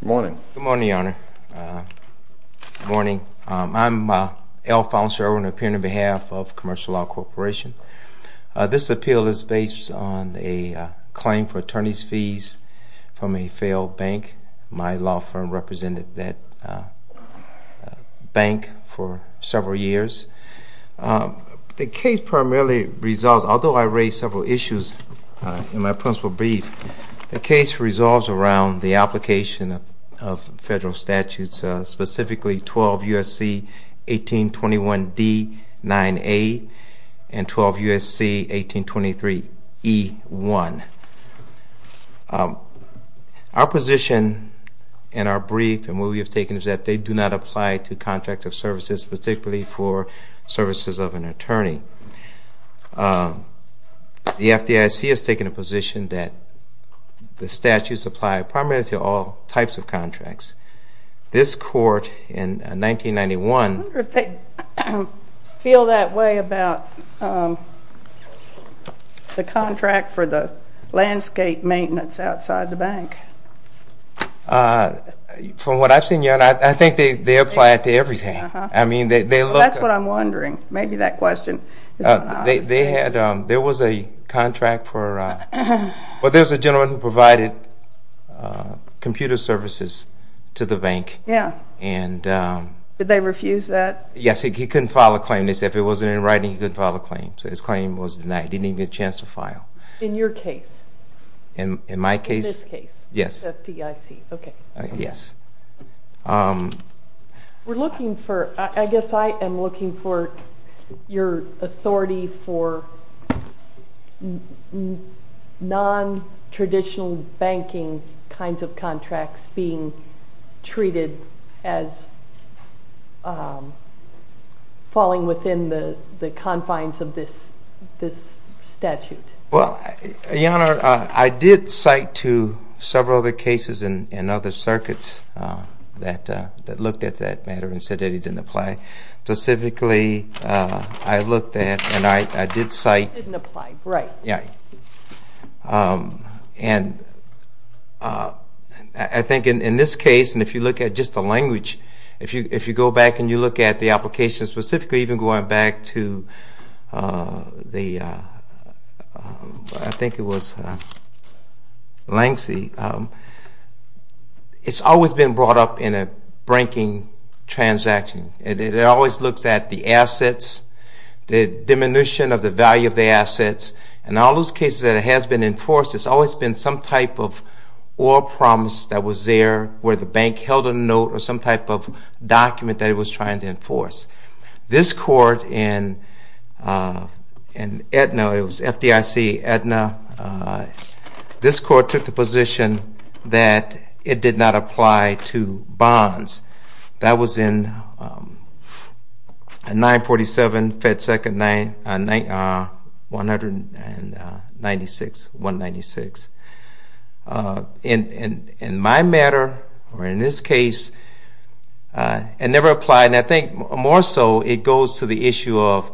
Good morning. Good morning, Your Honor. Good morning. I'm Alphonse Irwin, appearing on behalf of Commercial Law Corporation. This appeal is based on a claim for attorney's fees from a failed bank. My law firm represented that bank for several years. The case primarily resolves, although I raised several issues in my principal brief, the case resolves around the application of federal statutes, specifically 12 U.S.C. 1821 D-9A and 12 U.S.C. 1823 E-1. Our position in our brief and what we have taken is that they do not apply to contracts of services, particularly for services of an attorney. The FDIC has taken a position that the statutes apply primarily to all types of contracts. This Court, in 1991... I wonder if they feel that way about the contract for the landscape maintenance outside the bank. From what I've seen, Your Honor, I think they apply it to everything. That's what I'm wondering. Maybe that question is not obvious. There was a gentleman who provided computer services to the bank. Did they refuse that? Yes. He couldn't file a claim. They said if it wasn't in writing, he couldn't file a claim. So his claim didn't even get a chance to file. In your case? In my case? In this case? Yes. FDIC. Okay. Yes. We're looking for... I guess I am looking for your authority for non-traditional banking kinds of contracts being treated as falling within the confines of this statute. Well, Your Honor, I did cite to several other cases and other circuits that looked at that matter and said that it didn't apply. Specifically, I looked at and I did cite... It didn't apply. Right. Yes. And I think in this case, and if you look at just the language, if you go back and you look at the application specifically, even going back to the... I think it was Langsley, it's always been brought up in a banking transaction. It always looks at the assets, the diminution of the value of the assets. In all those cases that it has been enforced, it's always been some type of oil promise that was there where the bank held a note or some type of document that it was trying to enforce. This court in Aetna, it was FDIC Aetna, this court took the position that it did not apply to bonds. That was in 947 FedSec 196. In my matter, or in this case, it never applied. And I think more so it goes to the issue of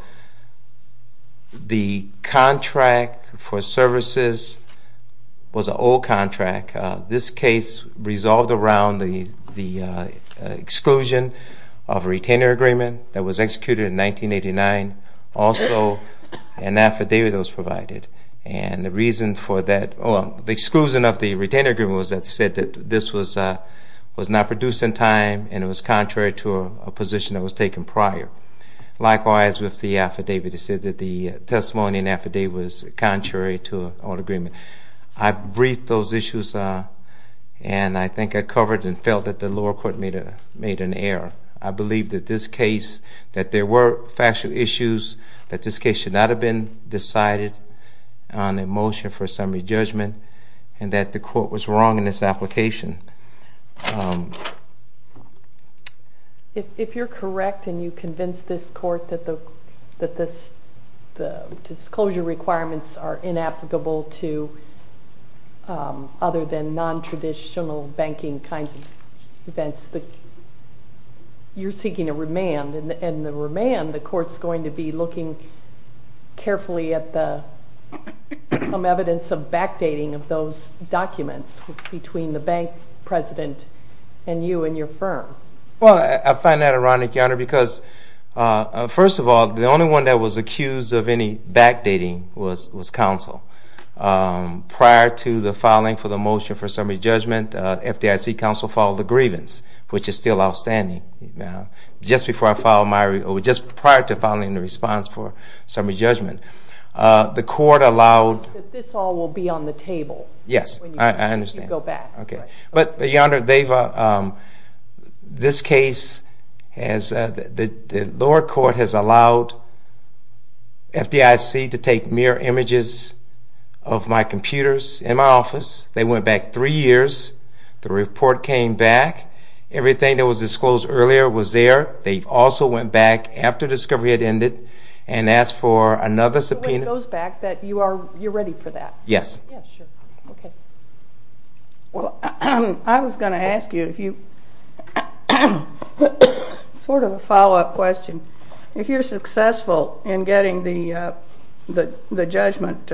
the contract for services was an old contract. This case resolved around the exclusion of a retainer agreement that was executed in 1989. Also, an affidavit was provided. And the reason for that... the exclusion of the retainer agreement was that it said that this was not produced in time and it was contrary to a position that was taken prior. Likewise, with the affidavit, it said that the testimony and affidavit was contrary to an old agreement. I briefed those issues and I think I covered and felt that the lower court made an error. I believe that this case, that there were factual issues, that this case should not have been decided on a motion for a summary judgment, and that the court was wrong in its application. If you're correct and you convince this court that the disclosure requirements are inapplicable to other than non-traditional banking kinds of events, you're seeking a remand. And in the remand, the court's going to be looking carefully at some evidence of backdating of those documents between the bank president and you and your firm. Well, I find that ironic, Your Honor, because first of all, the only one that was accused of any backdating was counsel. Prior to the filing for the motion for summary judgment, FDIC counsel filed a grievance, which is still outstanding. Just prior to filing the response for summary judgment, the court allowed... This all will be on the table. Yes, I understand. When you go back. But, Your Honor, this case, the lower court has allowed FDIC to take mirror images of my computers in my office. They went back three years. The report came back. Everything that was disclosed earlier was there. They also went back after discovery had ended and asked for another subpoena... Which goes back that you're ready for that. Yes. Yes, sure. Okay. Well, I was going to ask you if you... sort of a follow-up question. If you're successful in getting the judgment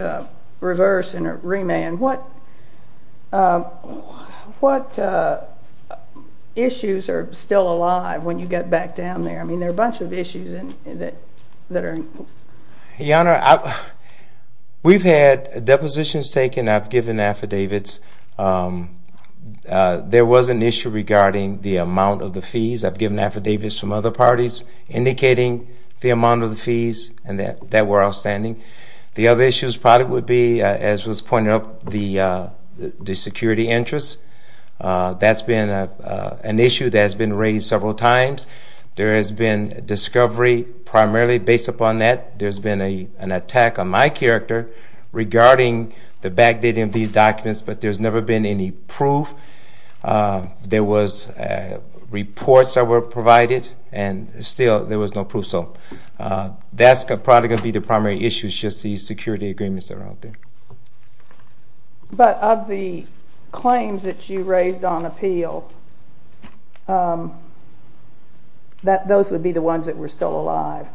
reversed and remanded, what issues are still alive when you get back down there? I mean, there are a bunch of issues that are... Your Honor, we've had depositions taken. I've given affidavits. There was an issue regarding the amount of the fees. I've given affidavits from other parties indicating the amount of the fees, and that were outstanding. The other issue probably would be, as was pointed out, the security interest. That's been an issue that has been raised several times. There has been discovery primarily based upon that. There's been an attack on my character regarding the backdating of these documents, but there's never been any proof. There was reports that were provided, and still there was no proof. So that's probably going to be the primary issue, just the security agreements that are out there. But of the claims that you raised on appeal, those would be the ones that were still alive?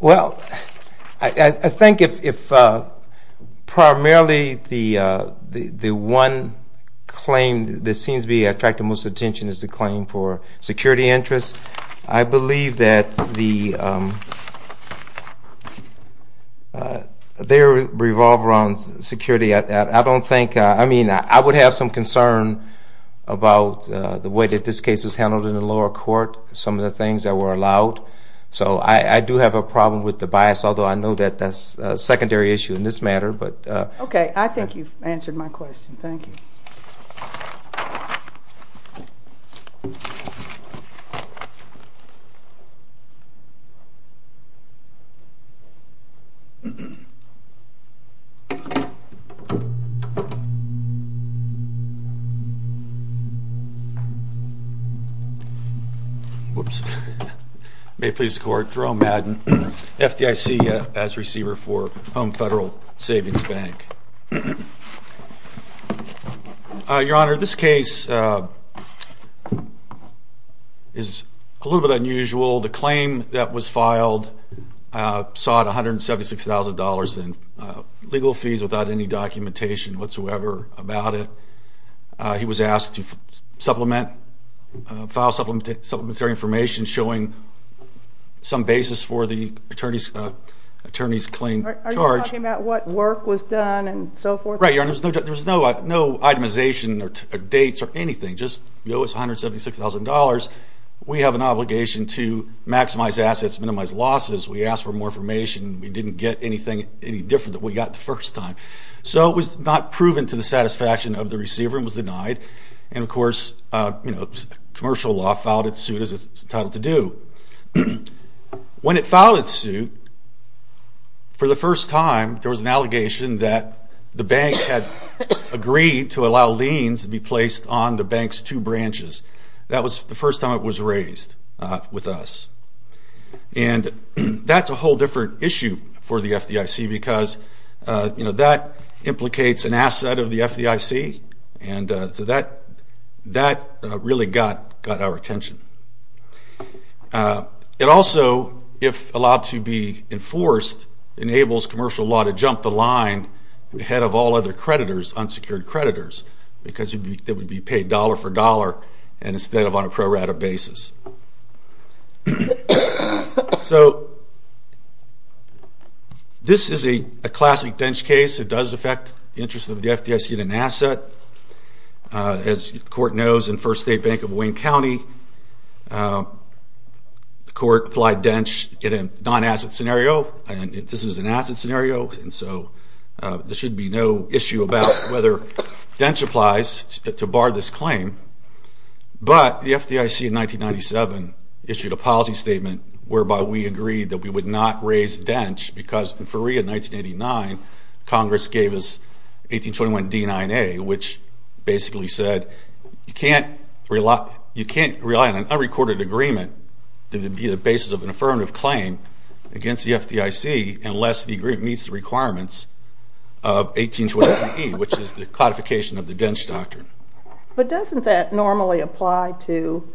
Well, I think if primarily the one claim that seems to be attracting the most attention is the claim for security interest, I believe that they revolve around security. I don't think... I mean, I would have some concern about the way that this case was handled in the lower court, some of the things that were allowed. So I do have a problem with the bias, although I know that that's a secondary issue in this matter. Okay. I think you've answered my question. Thank you. May it please the Court, Jerome Madden, FDIC as receiver for Home Federal Savings Bank. Your Honor, this case is a little bit unusual. The claim that was filed sought $176,000 in legal fees without any documentation whatsoever about it. He was asked to file supplementary information showing some basis for the attorney's claim charge. Are you talking about what work was done and so forth? Right, Your Honor. There was no itemization or dates or anything. Just, you know, it's $176,000. We have an obligation to maximize assets, minimize losses. We asked for more information. We didn't get anything any different than we got the first time. So it was not proven to the satisfaction of the receiver and was denied. And, of course, you know, commercial law filed its suit as it's entitled to do. When it filed its suit, for the first time there was an allegation that the bank had agreed to allow liens to be placed on the bank's two branches. That was the first time it was raised with us. And that's a whole different issue for the FDIC because, you know, that implicates an asset of the FDIC. And so that really got our attention. It also, if allowed to be enforced, enables commercial law to jump the line ahead of all other creditors, unsecured creditors, because they would be paid dollar for dollar instead of on a pro rata basis. So this is a classic DENCH case. It does affect the interest of the FDIC in an asset. As the court knows in First State Bank of Wayne County, the court applied DENCH in a non-asset scenario. And this is an asset scenario. And so there should be no issue about whether DENCH applies to bar this claim. But the FDIC in 1997 issued a policy statement whereby we agreed that we would not raise DENCH because in Feria 1989, Congress gave us 1821 D9A, which basically said you can't rely on an unrecorded agreement to be the basis of an affirmative claim against the FDIC unless the agreement meets the requirements of 1821E, which is the codification of the DENCH doctrine. But doesn't that normally apply to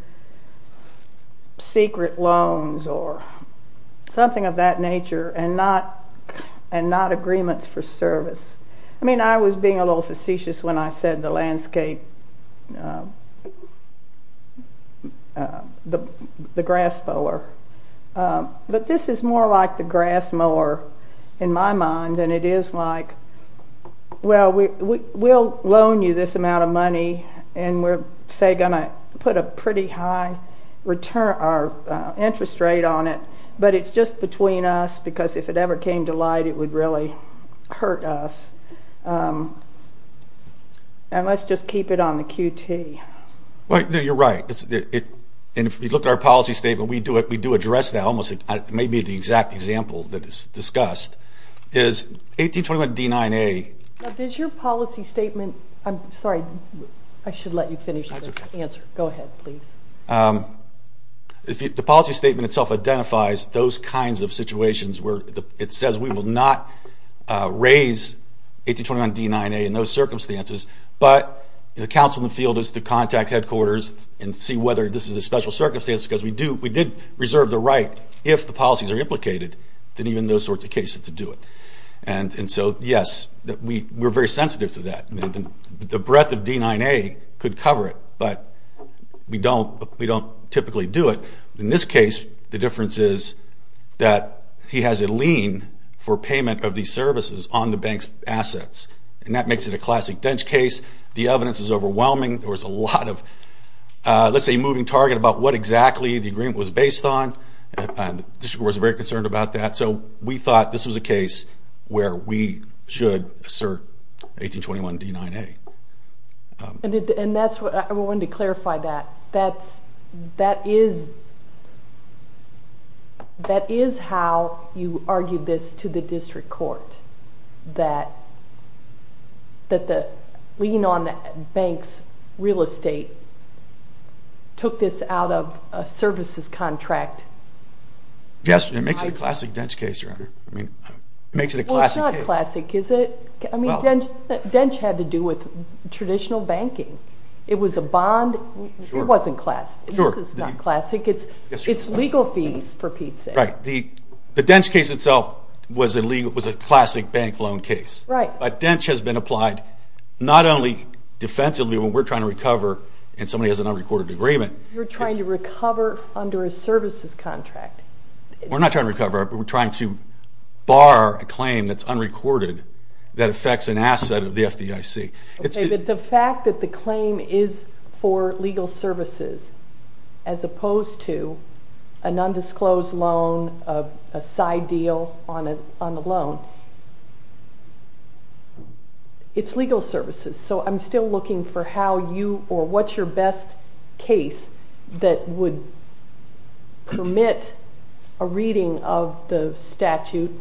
secret loans or something of that nature and not agreements for service? I mean, I was being a little facetious when I said the landscape, the grass mower. But this is more like the grass mower in my mind, and it is like, well, we'll loan you this amount of money, and we're, say, going to put a pretty high interest rate on it. But it's just between us because if it ever came to light, it would really hurt us. And let's just keep it on the QT. Well, you're right. And if you look at our policy statement, we do address that almost. It may be the exact example that is discussed is 1821 D9A. Now, does your policy statement – I'm sorry, I should let you finish the answer. Go ahead, please. The policy statement itself identifies those kinds of situations where it says we will not raise 1821 D9A in those circumstances, but the counsel in the field is to contact headquarters and see whether this is a special circumstance because we did reserve the right, if the policies are implicated, that even those sorts of cases to do it. And so, yes, we're very sensitive to that. The breadth of D9A could cover it, but we don't typically do it. In this case, the difference is that he has a lien for payment of these services on the bank's assets, and that makes it a classic dench case. The evidence is overwhelming. There was a lot of, let's say, moving target about what exactly the agreement was based on. The district court was very concerned about that. So we thought this was a case where we should assert 1821 D9A. And that's what – I wanted to clarify that. That is how you argued this to the district court, that the lien on the bank's real estate took this out of a services contract. Yes, it makes it a classic dench case, Your Honor. It makes it a classic case. Well, it's not classic, is it? I mean, dench had to do with traditional banking. It was a bond. It wasn't classic. This is not classic. It's legal fees for Pete's sake. Right. The dench case itself was a classic bank loan case. Right. But dench has been applied not only defensively when we're trying to recover and somebody has an unrecorded agreement. You're trying to recover under a services contract. We're not trying to recover. We're trying to bar a claim that's unrecorded that affects an asset of the FDIC. Okay, but the fact that the claim is for legal services as opposed to an undisclosed loan, a side deal on a loan, it's legal services. So I'm still looking for how you or what's your best case that would permit a reading of the statute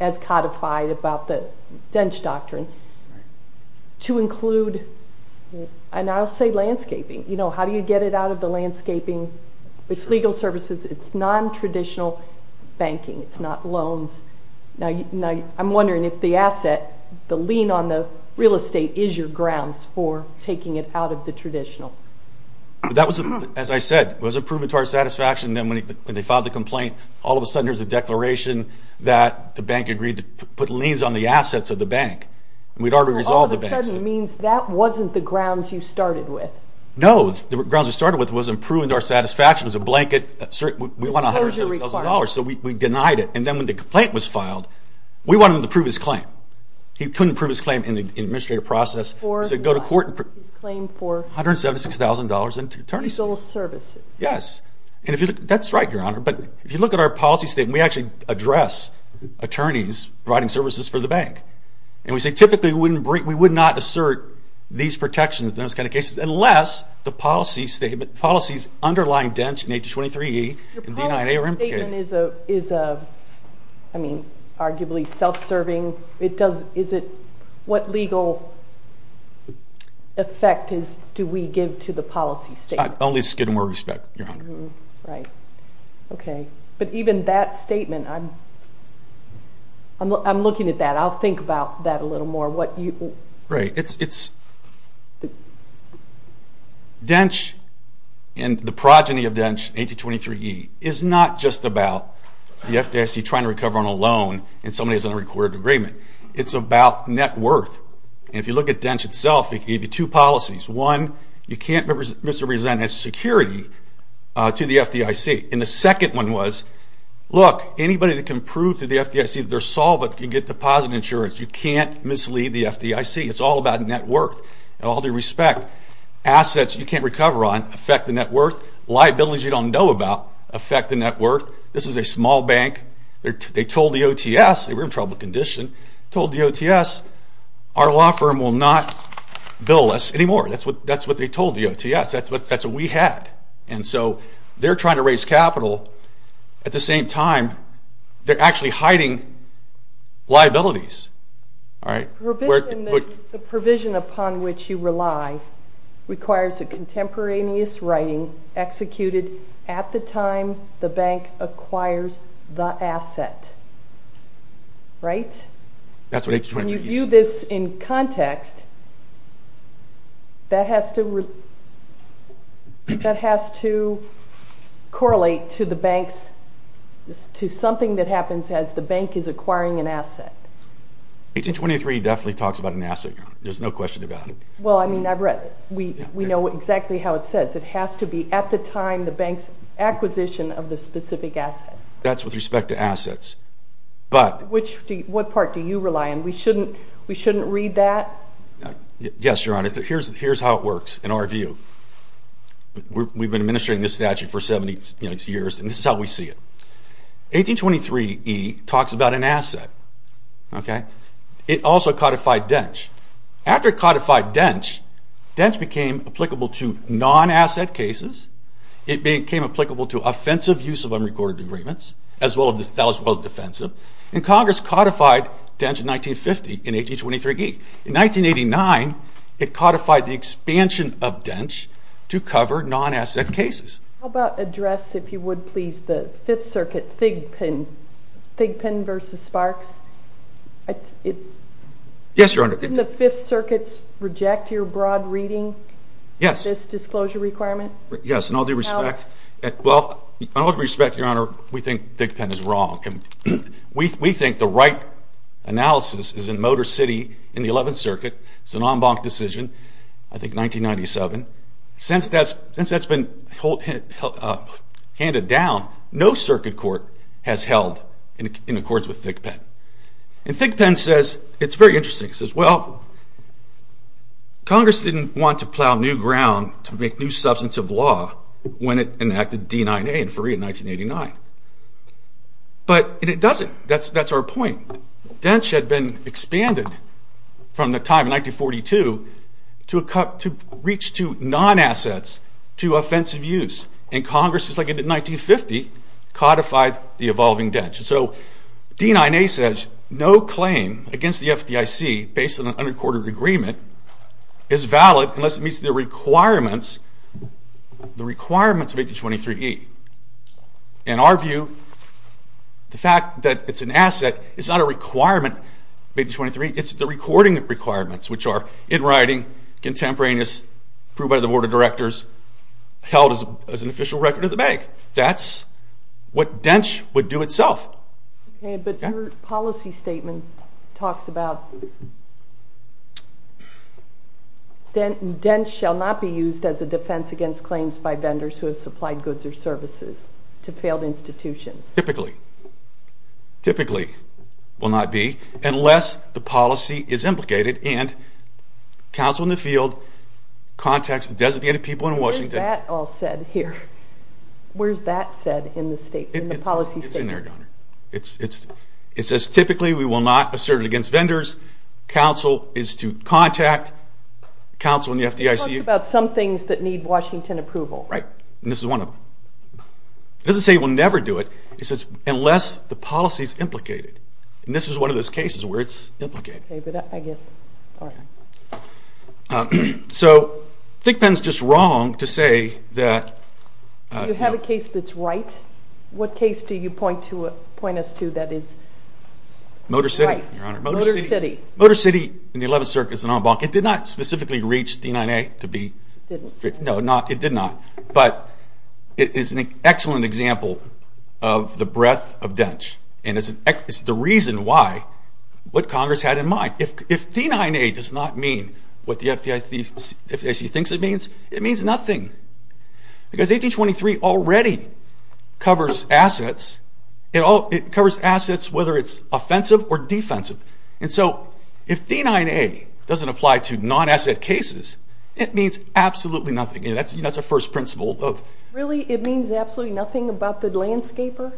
as codified about the dench doctrine to include, and I'll say landscaping. How do you get it out of the landscaping? It's legal services. It's non-traditional banking. It's not loans. Now, I'm wondering if the asset, the lien on the real estate, is your grounds for taking it out of the traditional. That was, as I said, it wasn't proven to our satisfaction. Then when they filed the complaint, all of a sudden there's a declaration that the bank agreed to put liens on the assets of the bank. We'd already resolved the bank's. All of a sudden means that wasn't the grounds you started with. No. The grounds we started with wasn't proven to our satisfaction. It was a blanket. We want $100,000, so we denied it. Then when the complaint was filed, we wanted him to prove his claim. He couldn't prove his claim in the administrative process. He said go to court. He's claimed for? $176,000 in attorney's fees. Legal services. Yes. That's right, Your Honor. But if you look at our policy statement, we actually address attorneys providing services for the bank. We say typically we would not assert these protections in those kind of cases unless the policy statement, policies underlying dench in H.23E and D-9A are implicated. Your policy statement is arguably self-serving. What legal effect do we give to the policy statement? Only skid more respect, Your Honor. Right. Okay. But even that statement, I'm looking at that. I'll think about that a little more. Right. Dench and the progeny of dench, H.23E, is not just about the FDIC trying to recover on a loan and somebody is in a recorded agreement. It's about net worth. And if you look at dench itself, it gave you two policies. One, you can't misrepresent its security to the FDIC. And the second one was, look, anybody that can prove to the FDIC that they're solvent can get deposit insurance. You can't mislead the FDIC. It's all about net worth and all due respect. Assets you can't recover on affect the net worth. Liabilities you don't know about affect the net worth. This is a small bank. They told the OTS, they were in trouble condition, told the OTS our law firm will not bill us anymore. That's what they told the OTS. That's what we had. And so they're trying to raise capital. At the same time, they're actually hiding liabilities. All right? The provision upon which you rely requires a contemporaneous writing executed at the time the bank acquires the asset. Right? When you view this in context, that has to correlate to something that happens as the bank is acquiring an asset. 1823 definitely talks about an asset. There's no question about it. Well, I mean, we know exactly how it says. It has to be at the time the bank's acquisition of the specific asset. That's with respect to assets. What part do you rely on? We shouldn't read that? Yes, Your Honor. Here's how it works in our view. We've been administering this statute for 70 years, and this is how we see it. 1823E talks about an asset. Okay? It also codified DENCH. After it codified DENCH, DENCH became applicable to non-asset cases. It became applicable to offensive use of unrecorded agreements, as well as defensive. And Congress codified DENCH in 1950 in 1823E. In 1989, it codified the expansion of DENCH to cover non-asset cases. How about address, if you would, please, the Fifth Circuit, Thigpen v. Sparks? Yes, Your Honor. Didn't the Fifth Circuit reject your broad reading of this disclosure requirement? Yes, in all due respect. Well, in all due respect, Your Honor, we think Thigpen is wrong. We think the right analysis is in Motor City in the Eleventh Circuit. It's an en banc decision, I think 1997. Since that's been handed down, no circuit court has held in accordance with Thigpen. And Thigpen says it's very interesting. He says, well, Congress didn't want to plow new ground to make new substantive law when it enacted D-9A in 1989. But it doesn't. That's our point. DENCH had been expanded from the time in 1942 to reach to non-assets to offensive use. And Congress, just like it did in 1950, codified the evolving DENCH. So D-9A says no claim against the FDIC based on an unrecorded agreement is valid unless it meets the requirements of 1823E. In our view, the fact that it's an asset is not a requirement of 1823E. It's the recording requirements, which are in writing, contemporaneous, approved by the Board of Directors, held as an official record of the bank. That's what DENCH would do itself. But your policy statement talks about DENCH shall not be used as a defense against claims by vendors who have supplied goods or services to failed institutions. Typically. Typically will not be unless the policy is implicated and counsel in the field contacts designated people in Washington. Where's that all said here? Where's that said in the statement, the policy statement? It's in there, Donna. It says typically we will not assert it against vendors. Counsel is to contact counsel in the FDIC. It talks about some things that need Washington approval. Right. And this is one of them. It doesn't say we'll never do it. It says unless the policy is implicated. And this is one of those cases where it's implicated. So I think Ben's just wrong to say that. Do you have a case that's right? What case do you point us to that is right? Motor City, Your Honor. Motor City. Motor City in the 11th Circuit is an en banc. It did not specifically reach D-9A to be fixed. No, it did not. But it is an excellent example of the breadth of DENCH. And it's the reason why what Congress had in mind. If D-9A does not mean what the FDIC thinks it means, it means nothing. Because 1823 already covers assets. It covers assets whether it's offensive or defensive. And so if D-9A doesn't apply to non-asset cases, it means absolutely nothing. That's our first principle. Really? It means absolutely nothing about the landscaper?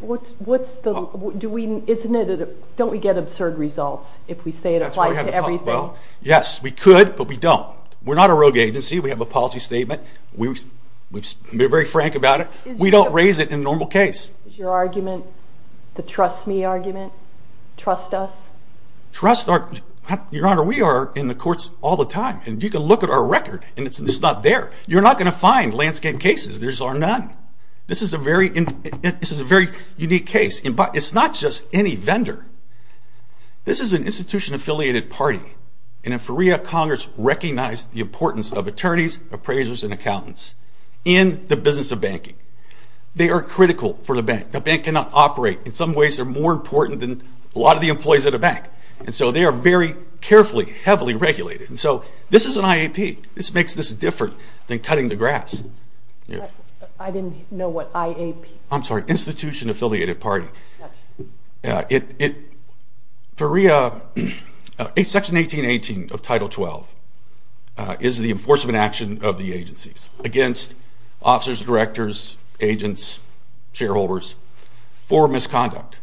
Don't we get absurd results if we say it applies to everything? Yes, we could, but we don't. We're not a rogue agency. We have a policy statement. We're very frank about it. We don't raise it in a normal case. Is your argument the trust me argument? Trust us? Trust our? Your Honor, we are in the courts all the time. And you can look at our record, and it's not there. You're not going to find landscape cases. There are none. This is a very unique case. It's not just any vendor. This is an institution-affiliated party. And in FERIA, Congress recognized the importance of attorneys, appraisers, and accountants in the business of banking. They are critical for the bank. The bank cannot operate. In some ways, they're more important than a lot of the employees at a bank. And so they are very carefully, heavily regulated. And so this is an IAP. This makes this different than cutting the grass. I didn't know what IAP was. I'm sorry, institution-affiliated party. In FERIA, Section 1818 of Title 12 is the enforcement action of the agencies against officers, directors, agents, shareholders for misconduct.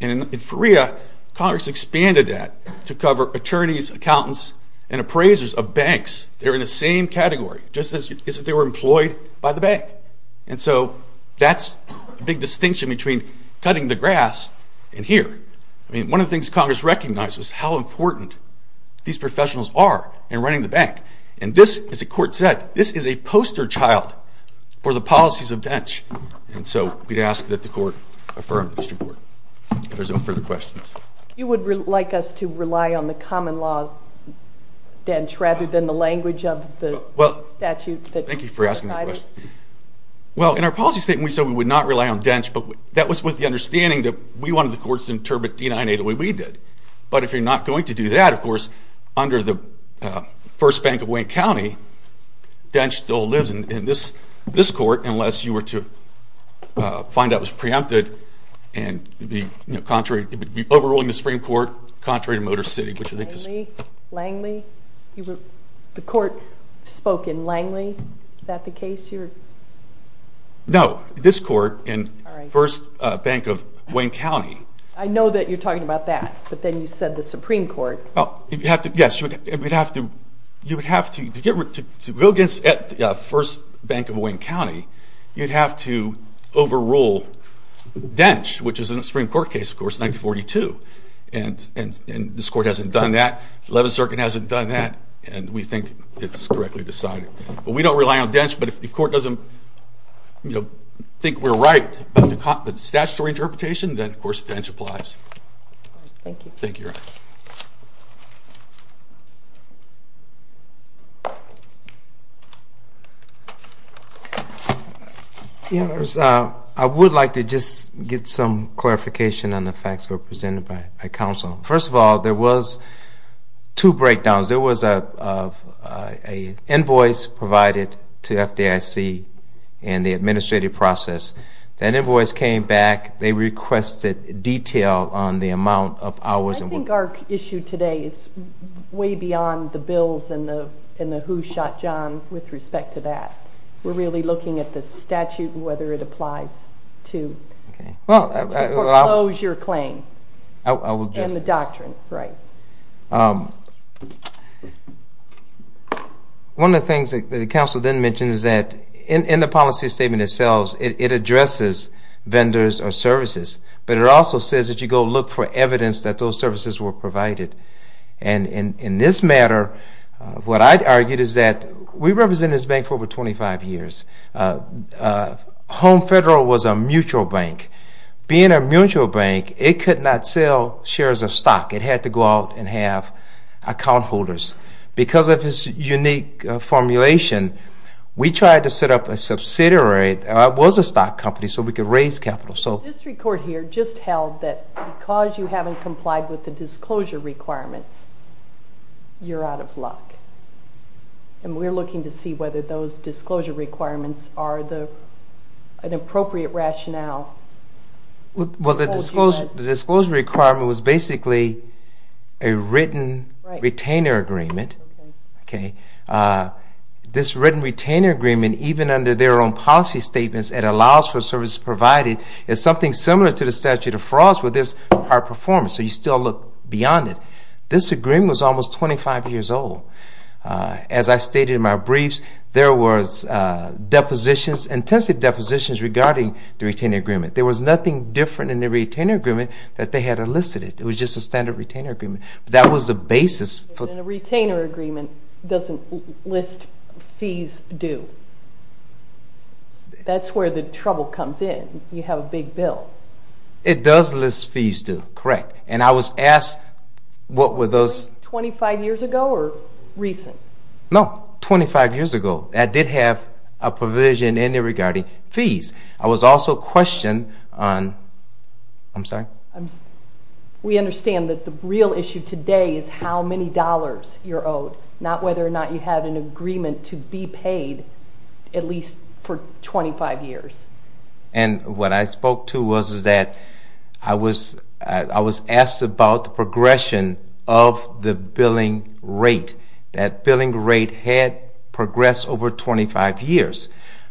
And in FERIA, Congress expanded that to cover attorneys, accountants, and appraisers of banks. They're in the same category, just as if they were employed by the bank. And so that's a big distinction between cutting the grass and here. One of the things Congress recognized was how important these professionals are in running the bank. And this, as the Court said, this is a poster child for the policies of DENCH. And so we'd ask that the Court affirm this report. If there's no further questions. You would like us to rely on the common law of DENCH rather than the language of the statute? Thank you for asking that question. Well, in our policy statement, we said we would not rely on DENCH, but that was with the understanding that we wanted the courts to interpret D-980 the way we did. But if you're not going to do that, of course, under the First Bank of Wayne County, DENCH still lives in this court unless you were to find out it was preempted. It would be overruling the Supreme Court, contrary to Motor City. Langley? The Court spoke in Langley? Is that the case here? No, this court in First Bank of Wayne County. I know that you're talking about that, but then you said the Supreme Court. Yes, you would have to go against First Bank of Wayne County. You'd have to overrule DENCH, which is a Supreme Court case, of course, 1942. And this court hasn't done that. The Eleventh Circuit hasn't done that, and we think it's correctly decided. But we don't rely on DENCH, but if the court doesn't think we're right about the statutory interpretation, then, of course, DENCH applies. Thank you. Thank you, Your Honor. I would like to just get some clarification on the facts represented by counsel. First of all, there was two breakdowns. There was an invoice provided to FDIC and the administrative process. That invoice came back. They requested detail on the amount of hours. I think our issue today is way beyond the bills and the who shot John with respect to that. We're really looking at the statute and whether it applies to the foreclosure claim and the doctrine. One of the things that the counsel didn't mention is that in the policy statement itself, it addresses vendors or services, but it also says that you go look for evidence that those services were provided. In this matter, what I argued is that we represented this bank for over 25 years. Home Federal was a mutual bank. Being a mutual bank, it could not sell shares of stock. It had to go out and have account holders. Because of its unique formulation, we tried to set up a subsidiary. It was a stock company, so we could raise capital. The district court here just held that because you haven't complied with the disclosure requirements, you're out of luck. We're looking to see whether those disclosure requirements are an appropriate rationale. The disclosure requirement was basically a written retainer agreement. This written retainer agreement, even under their own policy statements, it allows for services provided. It's something similar to the statute of frauds, but there's a performance, so you still look beyond it. This agreement was almost 25 years old. As I stated in my briefs, there was depositions, intensive depositions regarding the retainer agreement. There was nothing different in the retainer agreement that they had enlisted it. It was just a standard retainer agreement. That was the basis. A retainer agreement doesn't list fees due. That's where the trouble comes in. You have a big bill. It does list fees due, correct. And I was asked what were those. 25 years ago or recent? No, 25 years ago. That did have a provision in there regarding fees. I was also questioned on, I'm sorry. We understand that the real issue today is how many dollars you're owed, not whether or not you have an agreement to be paid at least for 25 years. And what I spoke to was that I was asked about the progression of the billing rate. That billing rate had progressed over 25 years.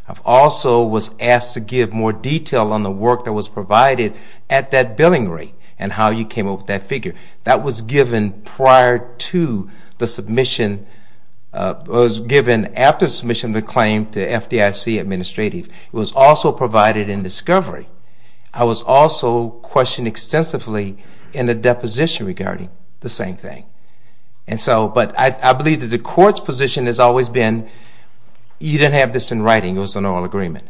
I also was asked to give more detail on the work that was provided at that billing rate and how you came up with that figure. That was given after submission of the claim to FDIC administrative. It was also provided in discovery. I was also questioned extensively in the deposition regarding the same thing. But I believe that the court's position has always been you didn't have this in writing. It was an oral agreement.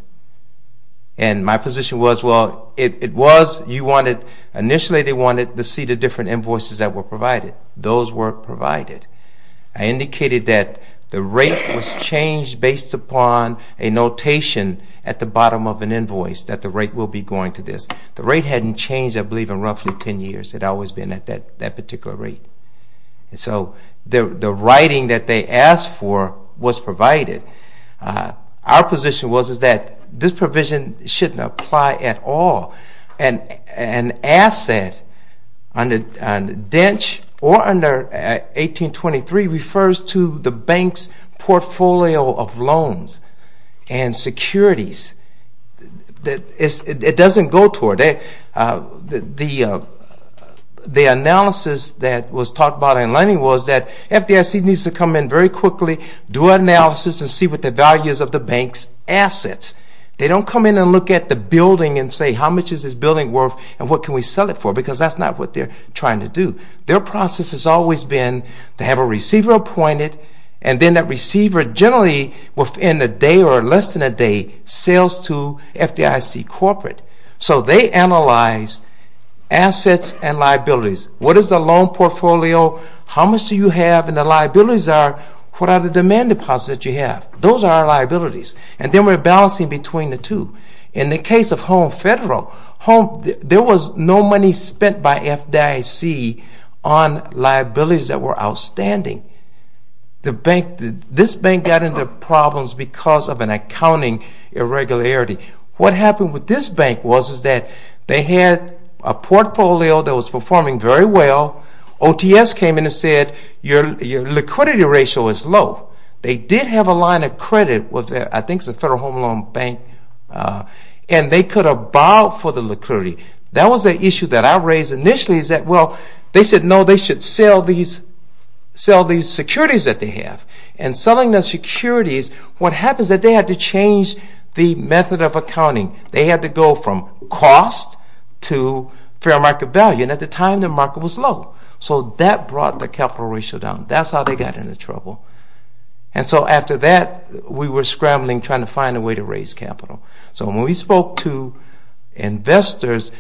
And my position was, well, it was. Initially they wanted to see the different invoices that were provided. Those were provided. I indicated that the rate was changed based upon a notation at the bottom of an invoice, that the rate will be going to this. The rate hadn't changed, I believe, in roughly 10 years. It had always been at that particular rate. So the writing that they asked for was provided. Our position was that this provision shouldn't apply at all. An asset under DENCH or under 1823 refers to the bank's portfolio of loans and securities. It doesn't go toward that. The analysis that was talked about in lending was that FDIC needs to come in very quickly, do an analysis, and see what the values of the bank's assets. They don't come in and look at the building and say how much is this building worth and what can we sell it for, because that's not what they're trying to do. Their process has always been to have a receiver appointed, and then that receiver generally within a day or less than a day sells to FDIC corporate. So they analyze assets and liabilities. What is the loan portfolio, how much do you have, and the liabilities are, what are the demand deposits that you have? Those are our liabilities. And then we're balancing between the two. In the case of Home Federal, there was no money spent by FDIC on liabilities that were outstanding. This bank got into problems because of an accounting irregularity. What happened with this bank was that they had a portfolio that was performing very well. OTS came in and said your liquidity ratio is low. They did have a line of credit with, I think, the Federal Home Loan Bank, and they could have borrowed for the liquidity. That was the issue that I raised initially is that, well, they said, no, they should sell these securities that they have. And selling those securities, what happens is that they had to change the method of accounting. They had to go from cost to fair market value, and at the time the market was low. So that brought the capital ratio down. That's how they got into trouble. And so after that, we were scrambling, trying to find a way to raise capital. So when we spoke to investors,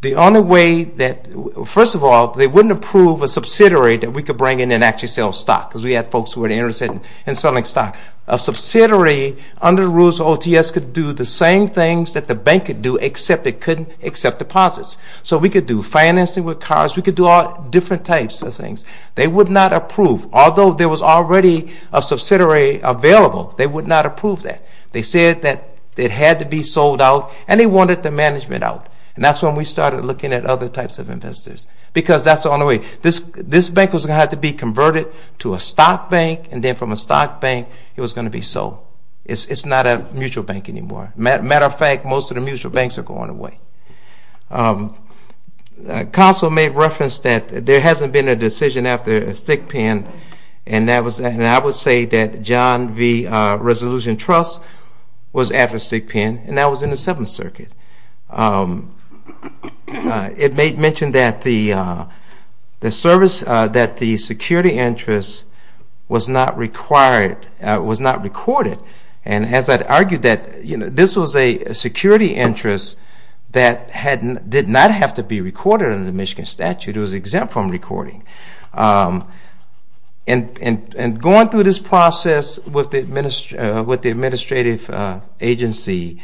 the only way that, first of all, they wouldn't approve a subsidiary that we could bring in and actually sell stock, because we had folks who were interested in selling stock. A subsidiary, under the rules of OTS, could do the same things that the bank could do, except it couldn't accept deposits. So we could do financing with cards. We could do all different types of things. They would not approve. Although there was already a subsidiary available, they would not approve that. They said that it had to be sold out, and they wanted the management out. And that's when we started looking at other types of investors. Because that's the only way. This bank was going to have to be converted to a stock bank, and then from a stock bank, it was going to be sold. It's not a mutual bank anymore. Matter of fact, most of the mutual banks are going away. Council made reference that there hasn't been a decision after a thick pen, and I would say that John V. Resolution Trust was after a thick pen, and that was in the Seventh Circuit. It mentioned that the security interest was not recorded, and as I'd argued that this was a security interest that did not have to be recorded under the Michigan statute, it was exempt from recording. And going through this process with the administrative agency,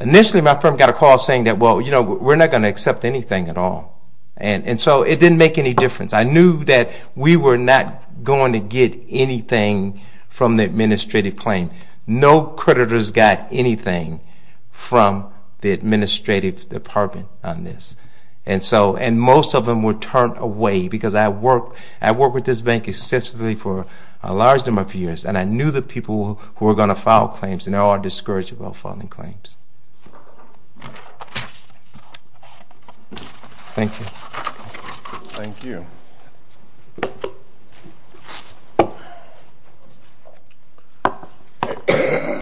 initially my firm got a call saying that, well, you know, we're not going to accept anything at all. And so it didn't make any difference. I knew that we were not going to get anything from the administrative claim. No creditors got anything from the administrative department on this, and most of them were turned away because I worked with this bank extensively for a large number of years, and I knew the people who were going to file claims, and there are discourageable filing claims. Thank you. Thank you.